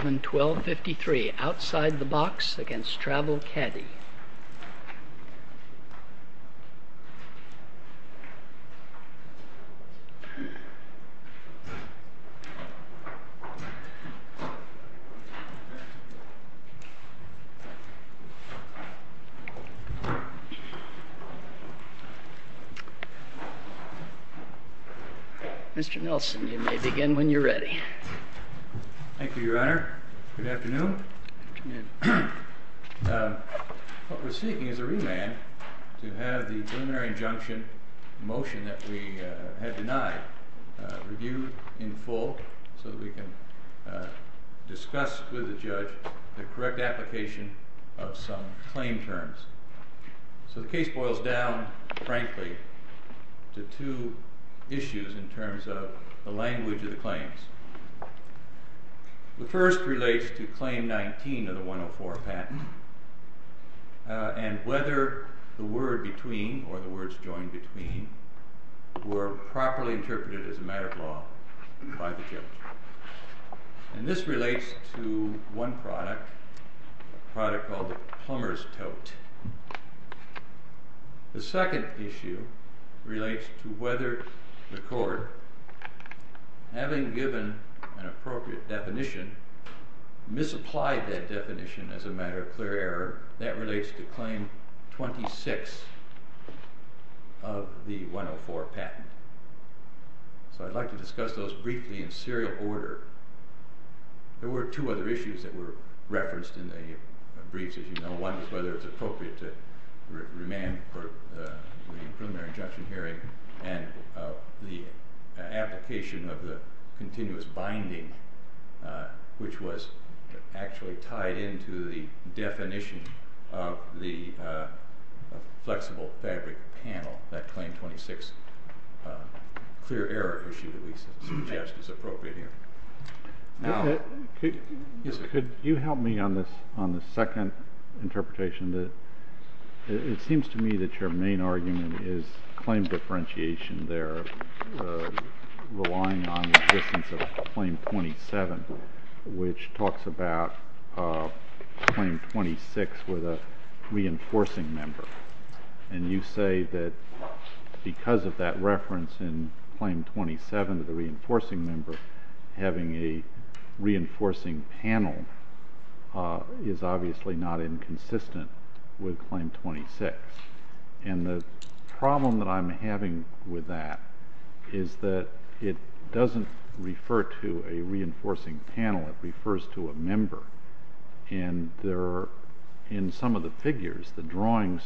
11-12-53 Outside The Box v. Travel Caddy Mr. Nelson, you may begin when you're ready. Thank you, Your Honor. Good afternoon. What we're seeking is a remand to have the preliminary injunction motion that we had denied reviewed in full so that we can discuss with the judge the correct application of some claim terms. So the case boils down, frankly, to two issues in terms of the language of the claims. The first relates to Claim 19 of the 104 patent and whether the word between or the words joined between were properly interpreted as a matter of law by the judge. And this relates to one product, a product called the Plumber's Tote. The second issue relates to whether the court, having given an appropriate definition, misapplied that definition as a matter of clear error. That relates to Claim 26 of the 104 patent. So I'd like to discuss those briefly in serial order. There were two other issues that were referenced in the briefs, as you know. One is whether it's appropriate to remand for the preliminary injunction hearing and the application of the continuous binding, which was actually tied into the definition of the flexible fabric panel, that Claim 26 clear error issue that we suggest is appropriate here. Could you help me on this second interpretation? It seems to me that your main argument is claim differentiation there, relying on the existence of Claim 27, which talks about Claim 26 with a reinforcing member. And you say that because of that reference in Claim 27 of the reinforcing member, having a reinforcing panel is obviously not inconsistent with Claim 26. And the problem that I'm having with that is that it doesn't refer to a reinforcing panel, it refers to a member. And in some of the figures, the drawings,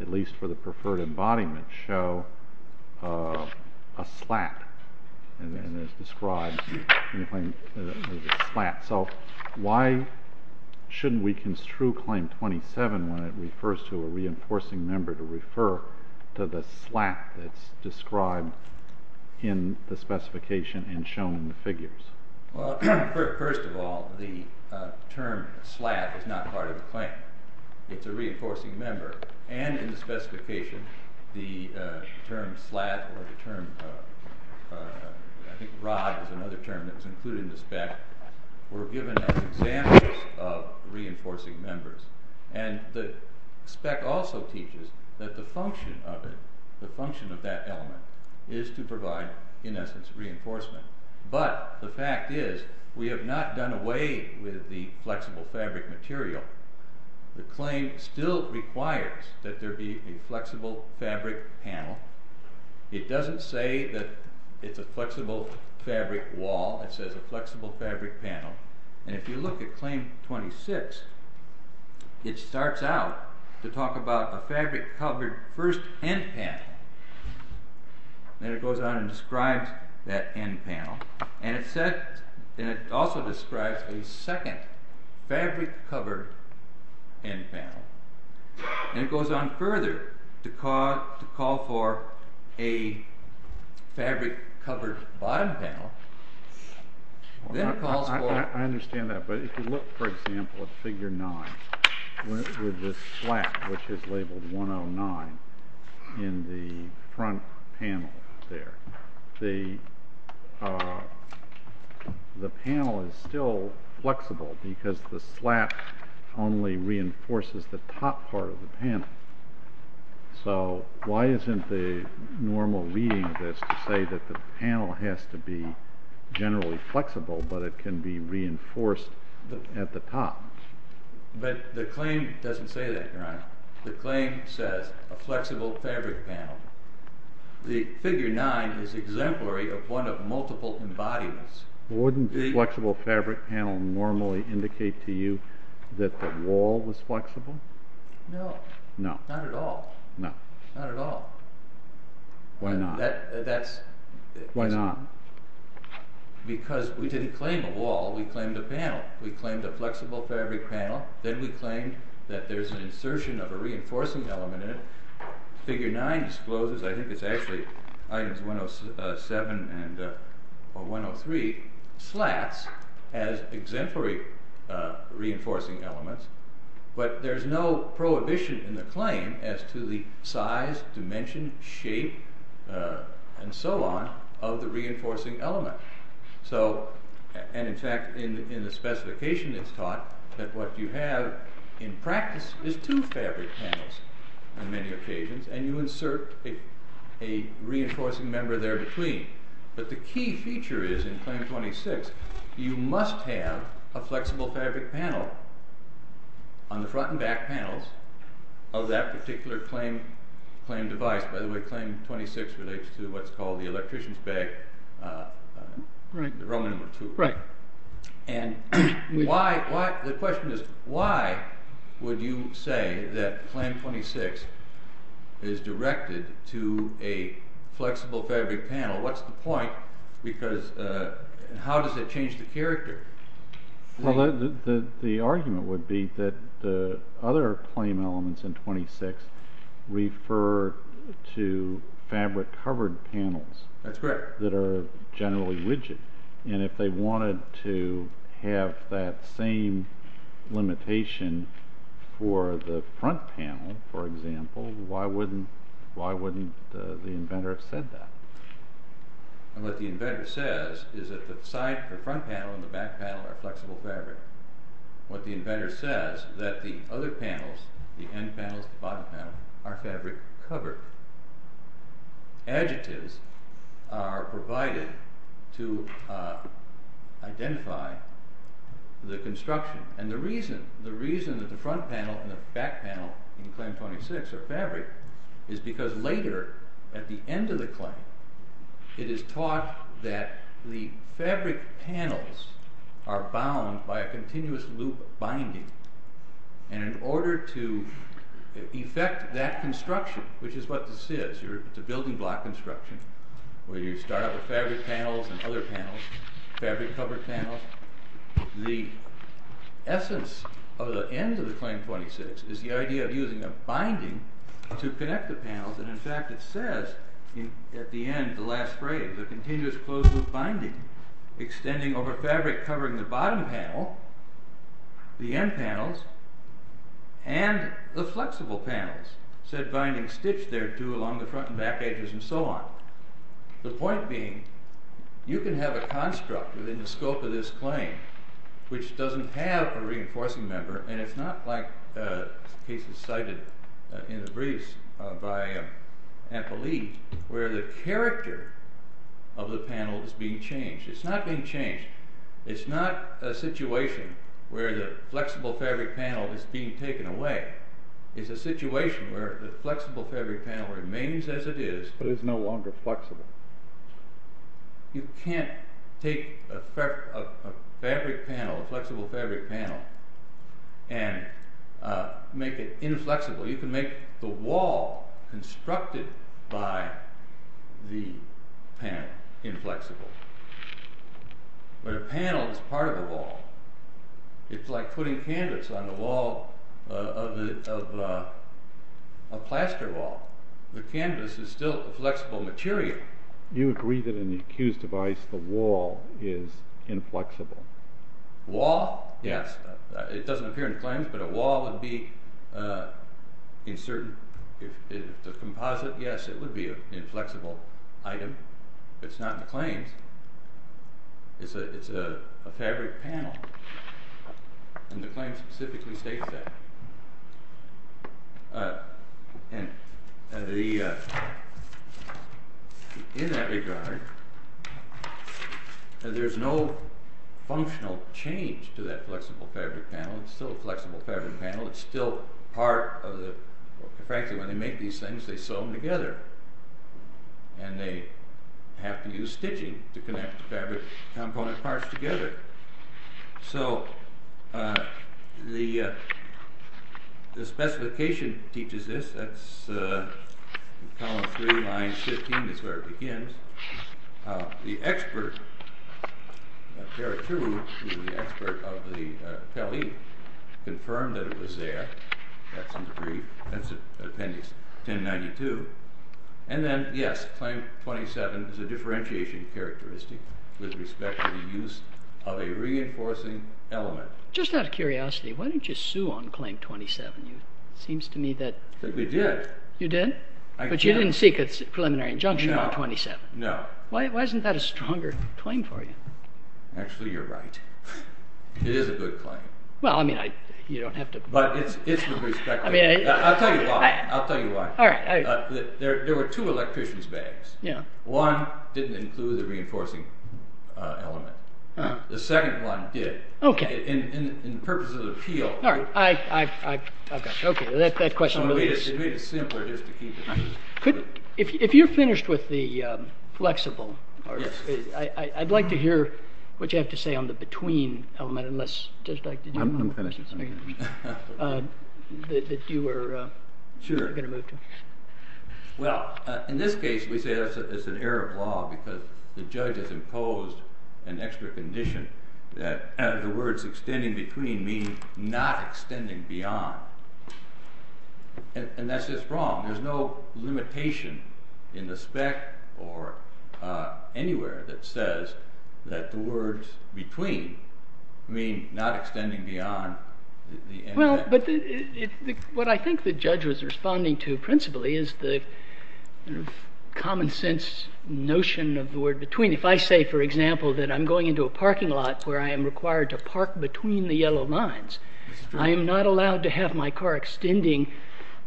at least for the preferred embodiment, show a slat. And then it's described as a slat. So why shouldn't we construe Claim 27 when it refers to a reinforcing member to refer to the slat that's described in the specification and shown in the figures? Well, first of all, the term slat is not part of the claim. It's a reinforcing member. And in the specification, the term slat, or the term rod is another term that's included in the spec, were given as examples of reinforcing members. And the spec also teaches that the function of it, the function of that element, is to provide, in essence, reinforcement. But the fact is, we have not done away with the flexible fabric material. The claim still requires that there be a flexible fabric panel. It doesn't say that it's a flexible fabric wall, it says a flexible fabric panel. And if you look at Claim 26, it starts out to talk about a fabric-covered first end panel. Then it goes on and describes that end panel. And it also describes a second fabric-covered end panel. And it goes on further to call for a fabric-covered bottom panel. I understand that. But if you look, for example, at Figure 9, with this slat, which is labeled 109, in the front panel there, the panel is still flexible because the slat only reinforces the top part of the panel. So, why isn't the normal reading of this to say that the panel has to be generally flexible, but it can be reinforced at the top? But the claim doesn't say that, Your Honor. The claim says, a flexible fabric panel. The Figure 9 is exemplary of one of multiple embodiments. Wouldn't a flexible fabric panel normally indicate to you that the wall was flexible? No. Not at all? No. Not at all? Why not? Why not? Because we didn't claim a wall, we claimed a panel. We claimed a flexible fabric panel. Then we claimed that there's an insertion of a reinforcing element in it. Figure 9 discloses, I think it's actually items 107 and 103, slats as exemplary reinforcing elements. But there's no prohibition in the claim as to the size, dimension, shape, and so on, of the reinforcing element. So, and in fact, in the specification it's taught that what you have in practice is two fabric panels on many occasions, and you insert a reinforcing member there between. But the key feature is in Claim 26, you must have a flexible fabric panel on the front and back panels of that particular claim device. By the way, Claim 26 relates to what's called the electrician's bag, row number 2. Right. And the question is, why would you say that Claim 26 is directed to a flexible fabric panel? What's the point? Because, how does it change the character? Well, the argument would be that the other claim elements in 26 refer to fabric covered panels. That's correct. That are generally rigid. And if they wanted to have that same limitation for the front panel, for example, why wouldn't the inventor have said that? What the inventor says is that the front panel and the back panel are flexible fabric. What the inventor says is that the other panels, the end panels and the bottom panels, are fabric covered. Adjectives are provided to identify the construction. And the reason that the front panel and the back panel in Claim 26 are fabric is because later, at the end of the claim, it is taught that the fabric panels are bound by a continuous loop binding. And in order to effect that construction, which is what this is, it's a building block construction, where you start out with fabric panels and other panels, fabric covered panels, the essence of the end of the Claim 26 is the idea of using a binding to connect the panels. And in fact, it says at the end, the last phrase, a continuous closed loop binding, extending over fabric covering the bottom panel, the end panels, and the flexible panels, said binding stitched there too along the front and back edges and so on. The point being, you can have a construct within the scope of this claim which doesn't have a reinforcing member, and it's not like the cases cited in the briefs by Ampelie, where the character of the panel is being changed. It's not being changed. It's not a situation where the flexible fabric panel is being taken away. It's a situation where the flexible fabric panel remains as it is. But it's no longer flexible. You can't take a fabric panel, a flexible fabric panel, and make it inflexible. You can make the wall constructed by the panel inflexible. But a panel is part of a wall. It's like putting canvas on the wall of a plaster wall. The canvas is still a flexible material. You agree that in the accused device, the wall is inflexible. Wall? Yes. It doesn't appear in the claims, but a wall would be, if it's a composite, yes, it would be an inflexible item. It's not in the claims. It's a fabric panel. And the claim specifically states that. In that regard, there's no functional change to that flexible fabric panel. It's still a flexible fabric panel. It's still part of the... Frankly, when they make these things, they sew them together. And they have to use stitching to connect the fabric component parts together. So, the specification teaches this. That's column 3, line 15. That's where it begins. The expert, the expert of the Pele, confirmed that it was there. That's in the brief. That's in appendix 1092. And then, yes, claim 27 is a differentiation characteristic with respect to the use of a reinforcing element. Just out of curiosity, why didn't you sue on claim 27? It seems to me that... We did. You did? But you didn't seek a preliminary injunction on 27? No. Why isn't that a stronger claim for you? Actually, you're right. It is a good claim. Well, I mean, you don't have to... I'll tell you why. There were two electrician's bags. One didn't include the reinforcing element. The second one did. In purpose of appeal... Okay, that question really is... It made it simpler just to keep it. If you're finished with the flexible, I'd like to hear what you have to say on the between element. I'm finished. Well, in this case, we say it's an error of law because the judge has imposed an extra condition that the words extending between mean not extending beyond. And that's just wrong. There's no limitation in the spec or anywhere that says that the words between mean not extending beyond. Well, but what I think the judge was responding to principally is the common sense notion of the word between. If I say, for example, that I'm going into a parking lot where I am required to park between the yellow lines, I am not allowed to have my car extending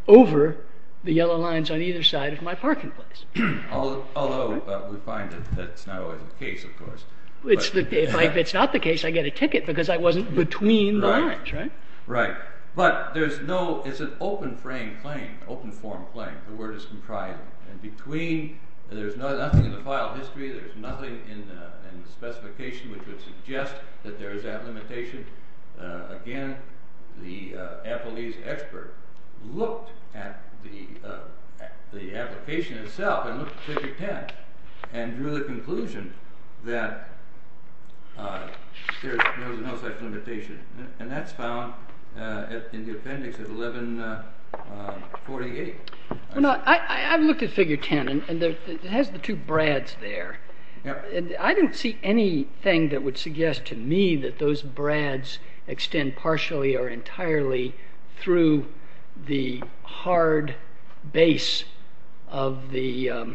over the yellow lines on either side of my parking place. Although we find that that's not always the case, of course. If it's not the case, I get a ticket because I wasn't between the lines, right? Right. But there's no, it's an open frame claim, open form claim. The word is comprising. And between, there's nothing in the file history, there's nothing in the specification which would suggest that there is that limitation. Again, the Applebee's expert looked at the application itself and looked at 5010 and drew the conclusion that there's no such limitation. And that's found in the appendix at 1148. I've looked at figure 10 and it has the two brads there. I didn't see anything that would suggest to me that those brads extend partially or entirely through the hard base of the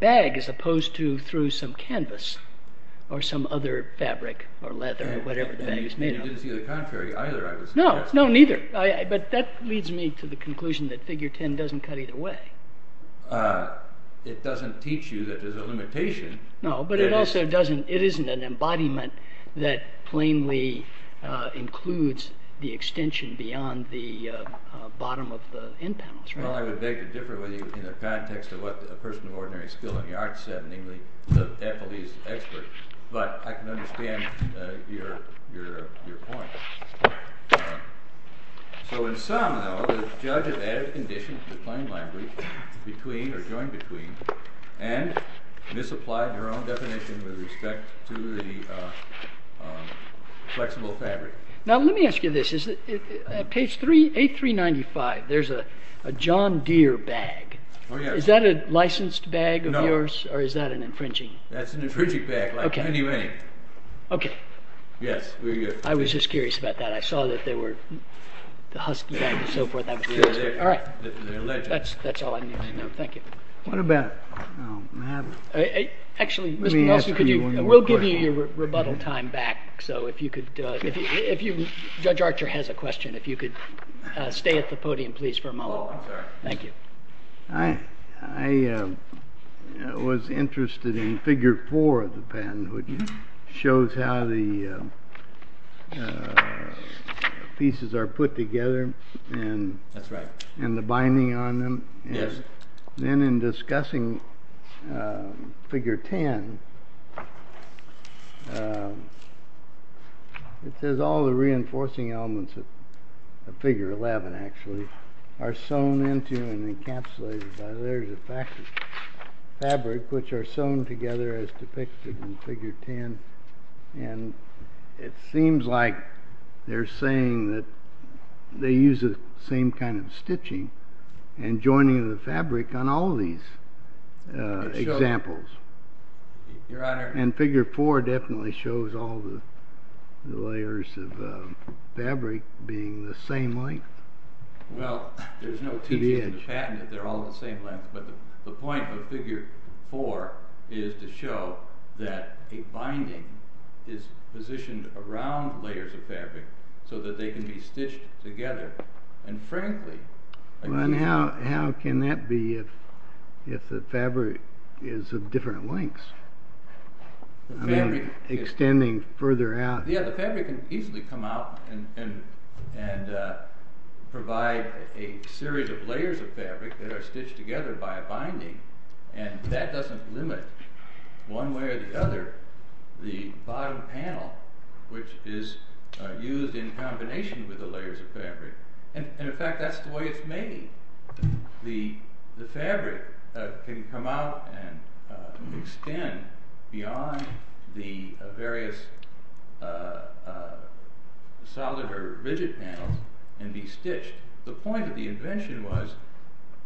bag as opposed to through some canvas or some other fabric or leather or whatever the bag is made of. And you didn't see the contrary either, I would suggest. No, no, neither. But that leads me to the conclusion that figure 10 doesn't cut either way. It doesn't teach you that there's a limitation. No, but it also doesn't, it isn't an embodiment that plainly includes the extension beyond the bottom of the end panels, right? Well, I would beg to differ with you in the context of what a person of ordinary skill in the arts said in the Applebee's expert, but I can understand your point. So in sum, though, the judge has added conditions to the plain language between or joined between and misapplied her own definition with respect to the flexible fabric. Now let me ask you this, at page 8395 there's a John Deere bag, is that a licensed bag of yours or is that an infringing? That's an infringing bag, like many, many. Okay. Yes. I was just curious about that, I saw that they were, the husky bag and so forth, that was curious. Alright, that's all I need to know, thank you. Actually, Mr. Nelson, we'll give you your rebuttal time back, so if you could, Judge Archer has a question, if you could stay at the podium please for a moment. Oh, I'm sorry. Thank you. I was interested in figure 4 of the patent, which shows how the pieces are put together and the binding on them. Then in discussing figure 10, it says all the reinforcing elements of figure 11 actually are sewn into and encapsulated by layers of fabric, which are sewn together as depicted in figure 10. And it seems like they're saying that they use the same kind of stitching and joining the fabric on all these examples. Your Honor. And figure 4 definitely shows all the layers of fabric being the same length. Well, there's no teaching in the patent that they're all the same length, but the point of figure 4 is to show that a binding is positioned around layers of fabric so that they can be stitched together. And frankly. How can that be if the fabric is of different lengths? Extending further out. Yeah, the fabric can easily come out and provide a series of layers of fabric that are stitched together by a binding. And that doesn't limit one way or the other the bottom panel, which is used in combination with the layers of fabric. And in fact, that's the way it's made. The fabric can come out and extend beyond the various solid or rigid panels and be stitched. The point of the invention was,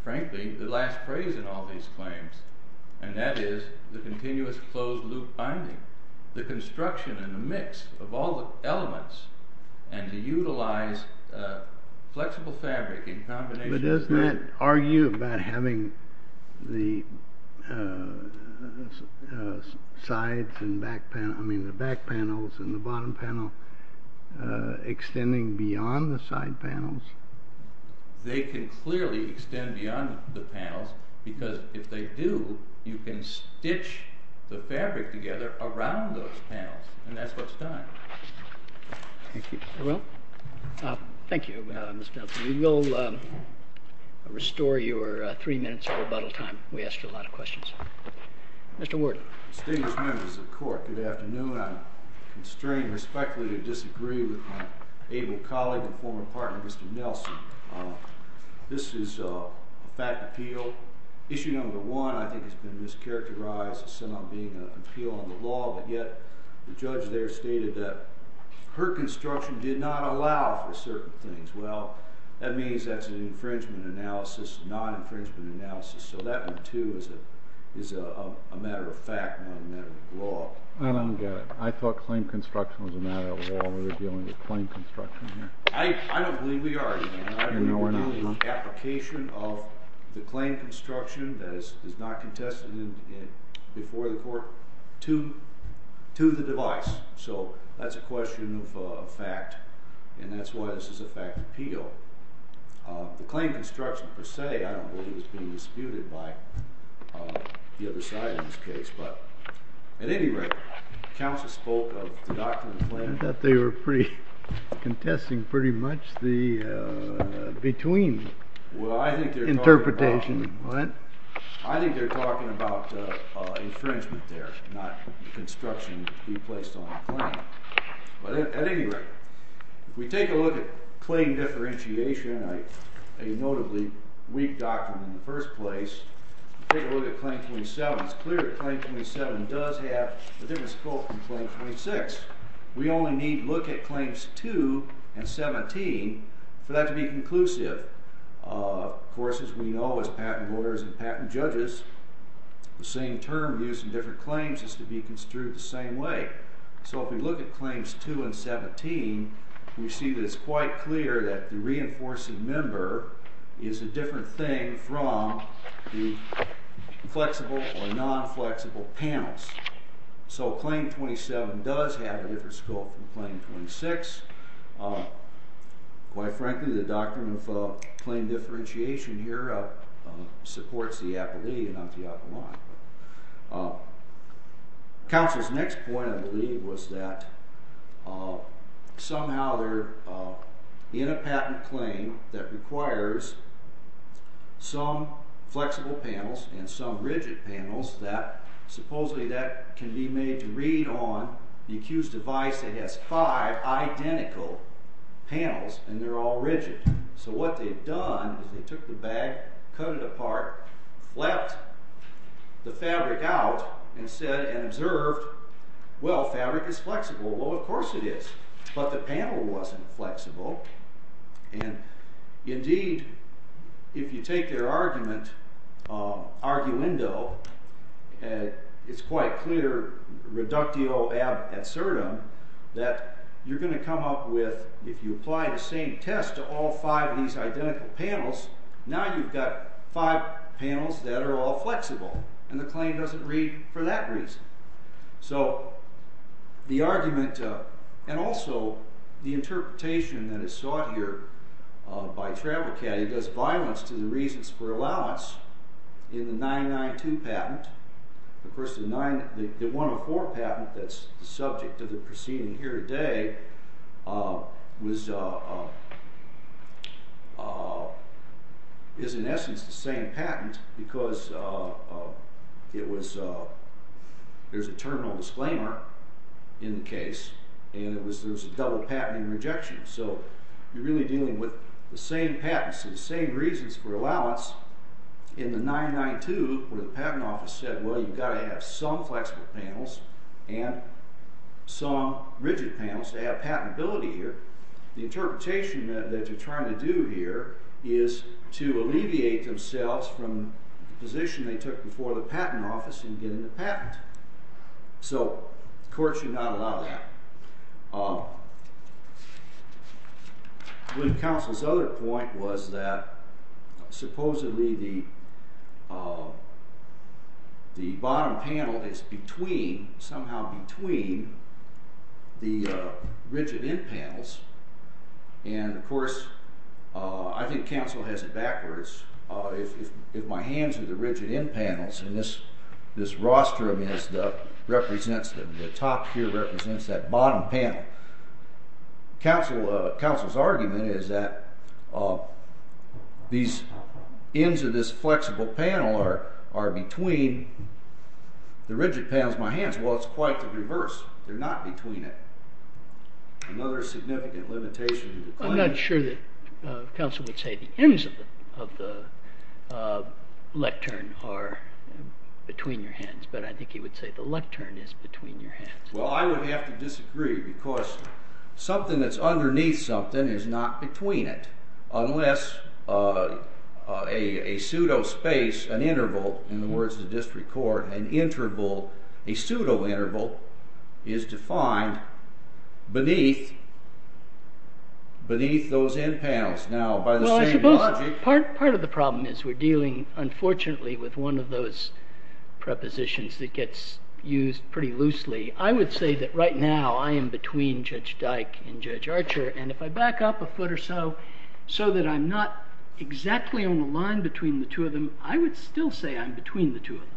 frankly, the last phrase in all these claims. And that is the continuous closed loop binding. The construction and the mix of all the elements and to utilize flexible fabric in combination. But doesn't that argue about having the back panels and the bottom panel extending beyond the side panels? They can clearly extend beyond the panels because if they do, you can stitch the fabric together around those panels. And that's what's done. Thank you. Thank you, Mr. Nelson. We will restore your three minutes of rebuttal time. We asked a lot of questions. Mr. Ward. Distinguished members of the court, good afternoon. I'm constrained respectfully to disagree with my able colleague and former partner, Mr. Nelson. This is a fact appeal. Issue number one, I think, has been mischaracterized as somehow being an appeal on the law. But yet the judge there stated that her construction did not allow for certain things. Well, that means that's an infringement analysis, not infringement analysis. So that one, too, is a matter of fact, not a matter of law. I don't get it. I thought claim construction was a matter of law. We're dealing with claim construction here. I don't believe we are. I believe we're dealing with the application of the claim construction that is not contested before the court to the device. So that's a question of fact. And that's why this is a fact appeal. The claim construction per se, I don't believe, is being disputed by the other side in this case. But at any rate, counsel spoke of the doctrine of claim construction. I thought they were pretty contesting pretty much the between interpretation. What? I think they're talking about infringement there, not construction to be placed on a claim. But at any rate, if we take a look at claim differentiation, a notably weak doctrine in the first place, take a look at claim 27. It's clear that claim 27 does have a different scope from claim 26. We only need to look at claims 2 and 17 for that to be conclusive. Of course, as we know as patent lawyers and patent judges, the same term used in different claims is to be construed the same way. So if we look at claims 2 and 17, we see that it's quite clear that the reinforcing member is a different thing from the flexible or non-flexible panels. So claim 27 does have a different scope from claim 26. Quite frankly, the doctrine of claim differentiation here supports the appellee and not the appellant. Counsel's next point, I believe, was that somehow they're in a patent claim that requires some flexible panels and some rigid panels. Supposedly that can be made to read on the accused's device that has five identical panels and they're all rigid. So what they've done is they took the bag, cut it apart, flapped the fabric out and said and observed, well, fabric is flexible. Well, of course it is, but the panel wasn't flexible. And indeed, if you take their argument, arguendo, it's quite clear reductio ad certum that you're going to come up with, if you apply the same test to all five of these identical panels, now you've got five panels that are all flexible and the claim doesn't read for that reason. So the argument and also the interpretation that is sought here by travel caddy does violence to the reasons for allowance in the 992 patent. The 104 patent that's the subject of the proceeding here today is in essence the same patent because there's a terminal disclaimer in the case and there's a double patenting rejection. So you're really dealing with the same patents and the same reasons for allowance in the 992 where the patent office said, well, you've got to have some flexible panels and some rigid panels to have patentability here. The interpretation that you're trying to do here is to alleviate themselves from the position they took before the patent office in getting the patent. So the court should not allow that. When counsel's other point was that supposedly the bottom panel is between, somehow between the rigid end panels. And of course, I think counsel has it backwards. If my hands are the rigid end panels and this rostrum represents them, the top here represents that bottom panel. Counsel's argument is that these ends of this flexible panel are between the rigid panels of my hands. Well, it's quite the reverse. They're not between it. Another significant limitation. I'm not sure that counsel would say the ends of the lectern are between your hands, but I think he would say the lectern is between your hands. Well, I would have to disagree because something that's underneath something is not between it. Unless a pseudo-space, an interval, in the words of the district court, an interval, a pseudo-interval is defined beneath those end panels. Now, by the same logic... Well, I suppose part of the problem is we're dealing, unfortunately, with one of those prepositions that gets used pretty loosely. I would say that right now I am between Judge Dike and Judge Archer. And if I back up a foot or so, so that I'm not exactly on the line between the two of them, I would still say I'm between the two of them.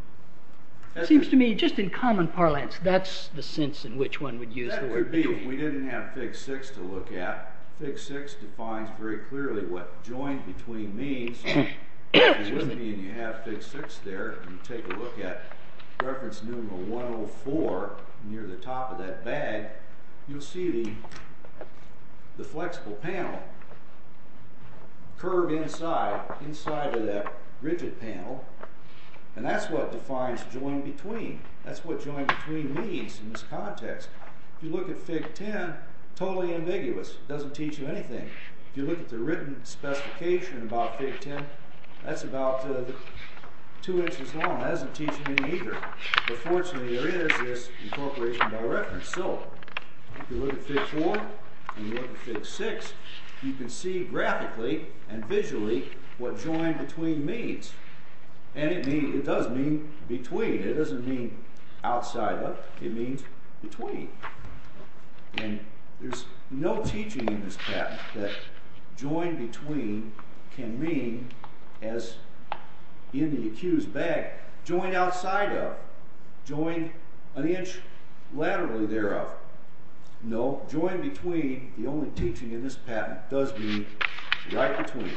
It seems to me, just in common parlance, that's the sense in which one would use the word between. Near the top of that bag, you'll see the flexible panel curved inside, inside of that rigid panel. And that's what defines joined between. That's what joined between means in this context. If you look at Fig. 10, totally ambiguous. It doesn't teach you anything. If you look at the written specification about Fig. 10, that's about two inches long. That doesn't teach you anything either. But fortunately, there is this incorporation by reference. So, if you look at Fig. 4 and you look at Fig. 6, you can see graphically and visually what joined between means. And it does mean between. It doesn't mean outside of. It means between. And there's no teaching in this patent that joined between can mean as in the accused bag. Joined outside of, joined an inch laterally thereof. No, joined between, the only teaching in this patent, does mean right between.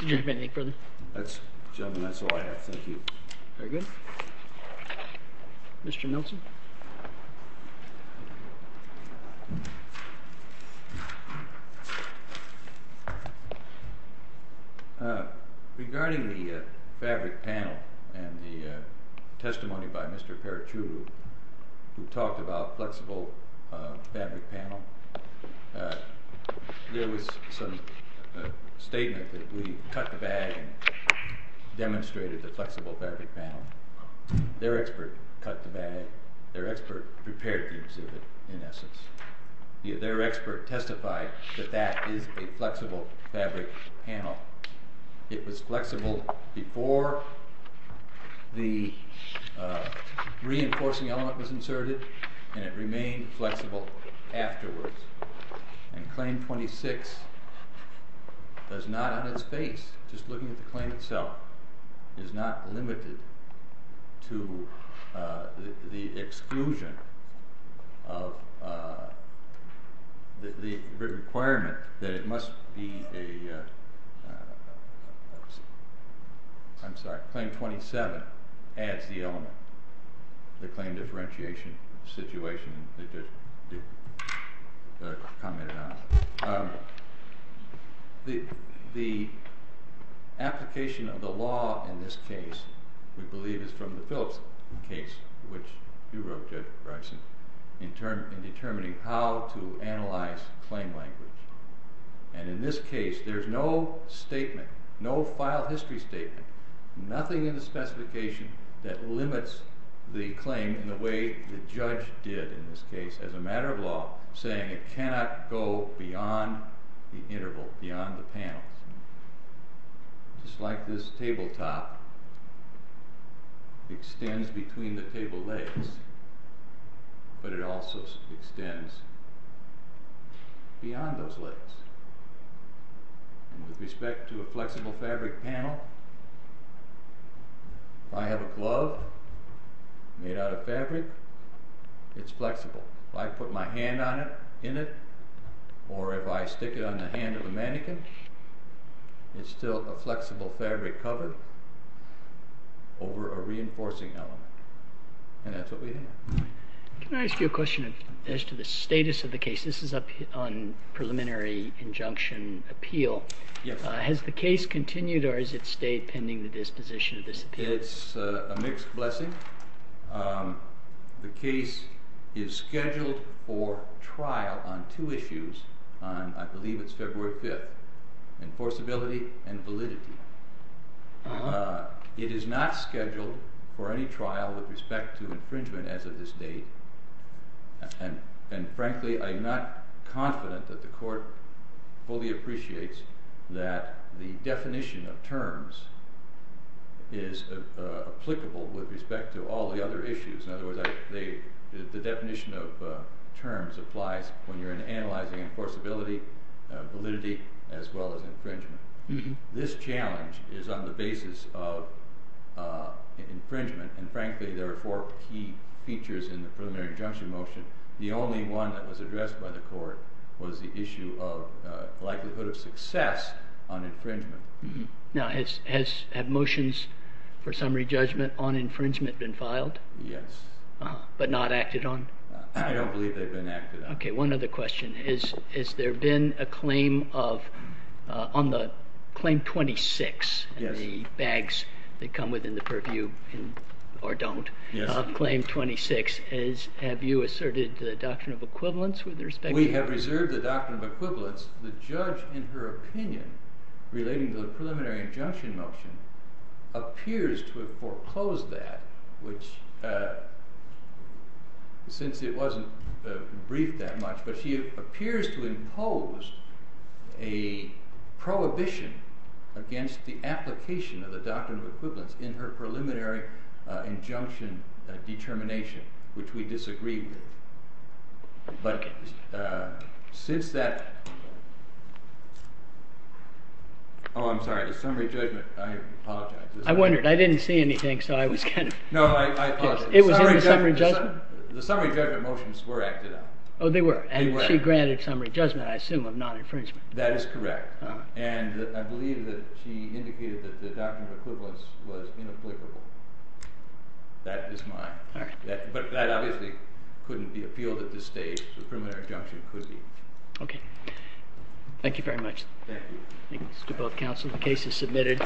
Did you have anything further? That's, gentlemen, that's all I have. Thank you. Very good. Mr. Nelson. Regarding the fabric panel and the testimony by Mr. Paratu, who talked about flexible fabric panel, there was some statement that we cut the bag and demonstrated the flexible fabric panel. Their expert cut the bag. Their expert prepared the exhibit, in essence. Their expert testified that that is a flexible fabric panel. It was flexible before the reinforcing element was inserted, and it remained flexible afterwards. And Claim 26 does not, on its base, just looking at the claim itself, is not limited to the exclusion of the requirement that it must be a, I'm sorry, Claim 27 adds the element, the claim differentiation situation that you commented on. The application of the law in this case, we believe, is from the Phillips case, which you wrote, Judge Bryson, in determining how to analyze claim language. And in this case, there's no statement, no file history statement, nothing in the specification that limits the claim in the way the judge did in this case, as a matter of law, saying it cannot go beyond the interval, beyond the panel. Just like this tabletop extends between the table legs, but it also extends beyond those legs. And with respect to a flexible fabric panel, if I have a glove made out of fabric, it's flexible. If I put my hand on it, in it, or if I stick it on the hand of a mannequin, it's still a flexible fabric covered over a reinforcing element. And that's what we have. Can I ask you a question as to the status of the case? This is up on preliminary injunction appeal. Yes. Has the case continued, or has it stayed pending the disposition of this appeal? It's a mixed blessing. The case is scheduled for trial on two issues on, I believe it's February 5th, enforceability and validity. It is not scheduled for any trial with respect to infringement as of this date. And frankly, I'm not confident that the court fully appreciates that the definition of terms is applicable with respect to all the other issues. In other words, the definition of terms applies when you're analyzing enforceability, validity, as well as infringement. This challenge is on the basis of infringement. And frankly, there are four key features in the preliminary injunction motion. The only one that was addressed by the court was the issue of likelihood of success on infringement. Now, have motions for summary judgment on infringement been filed? Yes. But not acted on? I don't believe they've been acted on. Okay, one other question. Has there been a claim of, on the Claim 26, the bags that come within the purview, or don't, of Claim 26? Have you asserted the doctrine of equivalence with respect to that? We have reserved the doctrine of equivalence. The judge, in her opinion, relating to the preliminary injunction motion, appears to have foreclosed that, which, since it wasn't briefed that much, but she appears to impose a prohibition against the application of the doctrine of equivalence in her preliminary injunction determination, which we disagree with. But, since that, oh, I'm sorry, the summary judgment, I apologize. I wondered. I didn't see anything, so I was kind of... No, I apologize. It was in the summary judgment? The summary judgment motions were acted on. Oh, they were. And she granted summary judgment, I assume, of non-infringement. That is correct. And I believe that she indicated that the doctrine of equivalence was inapplicable. That is mine. All right. But that obviously couldn't be appealed at this stage. The preliminary injunction could be. Okay. Thank you very much. Thank you. Thanks to both counsel. The case is submitted.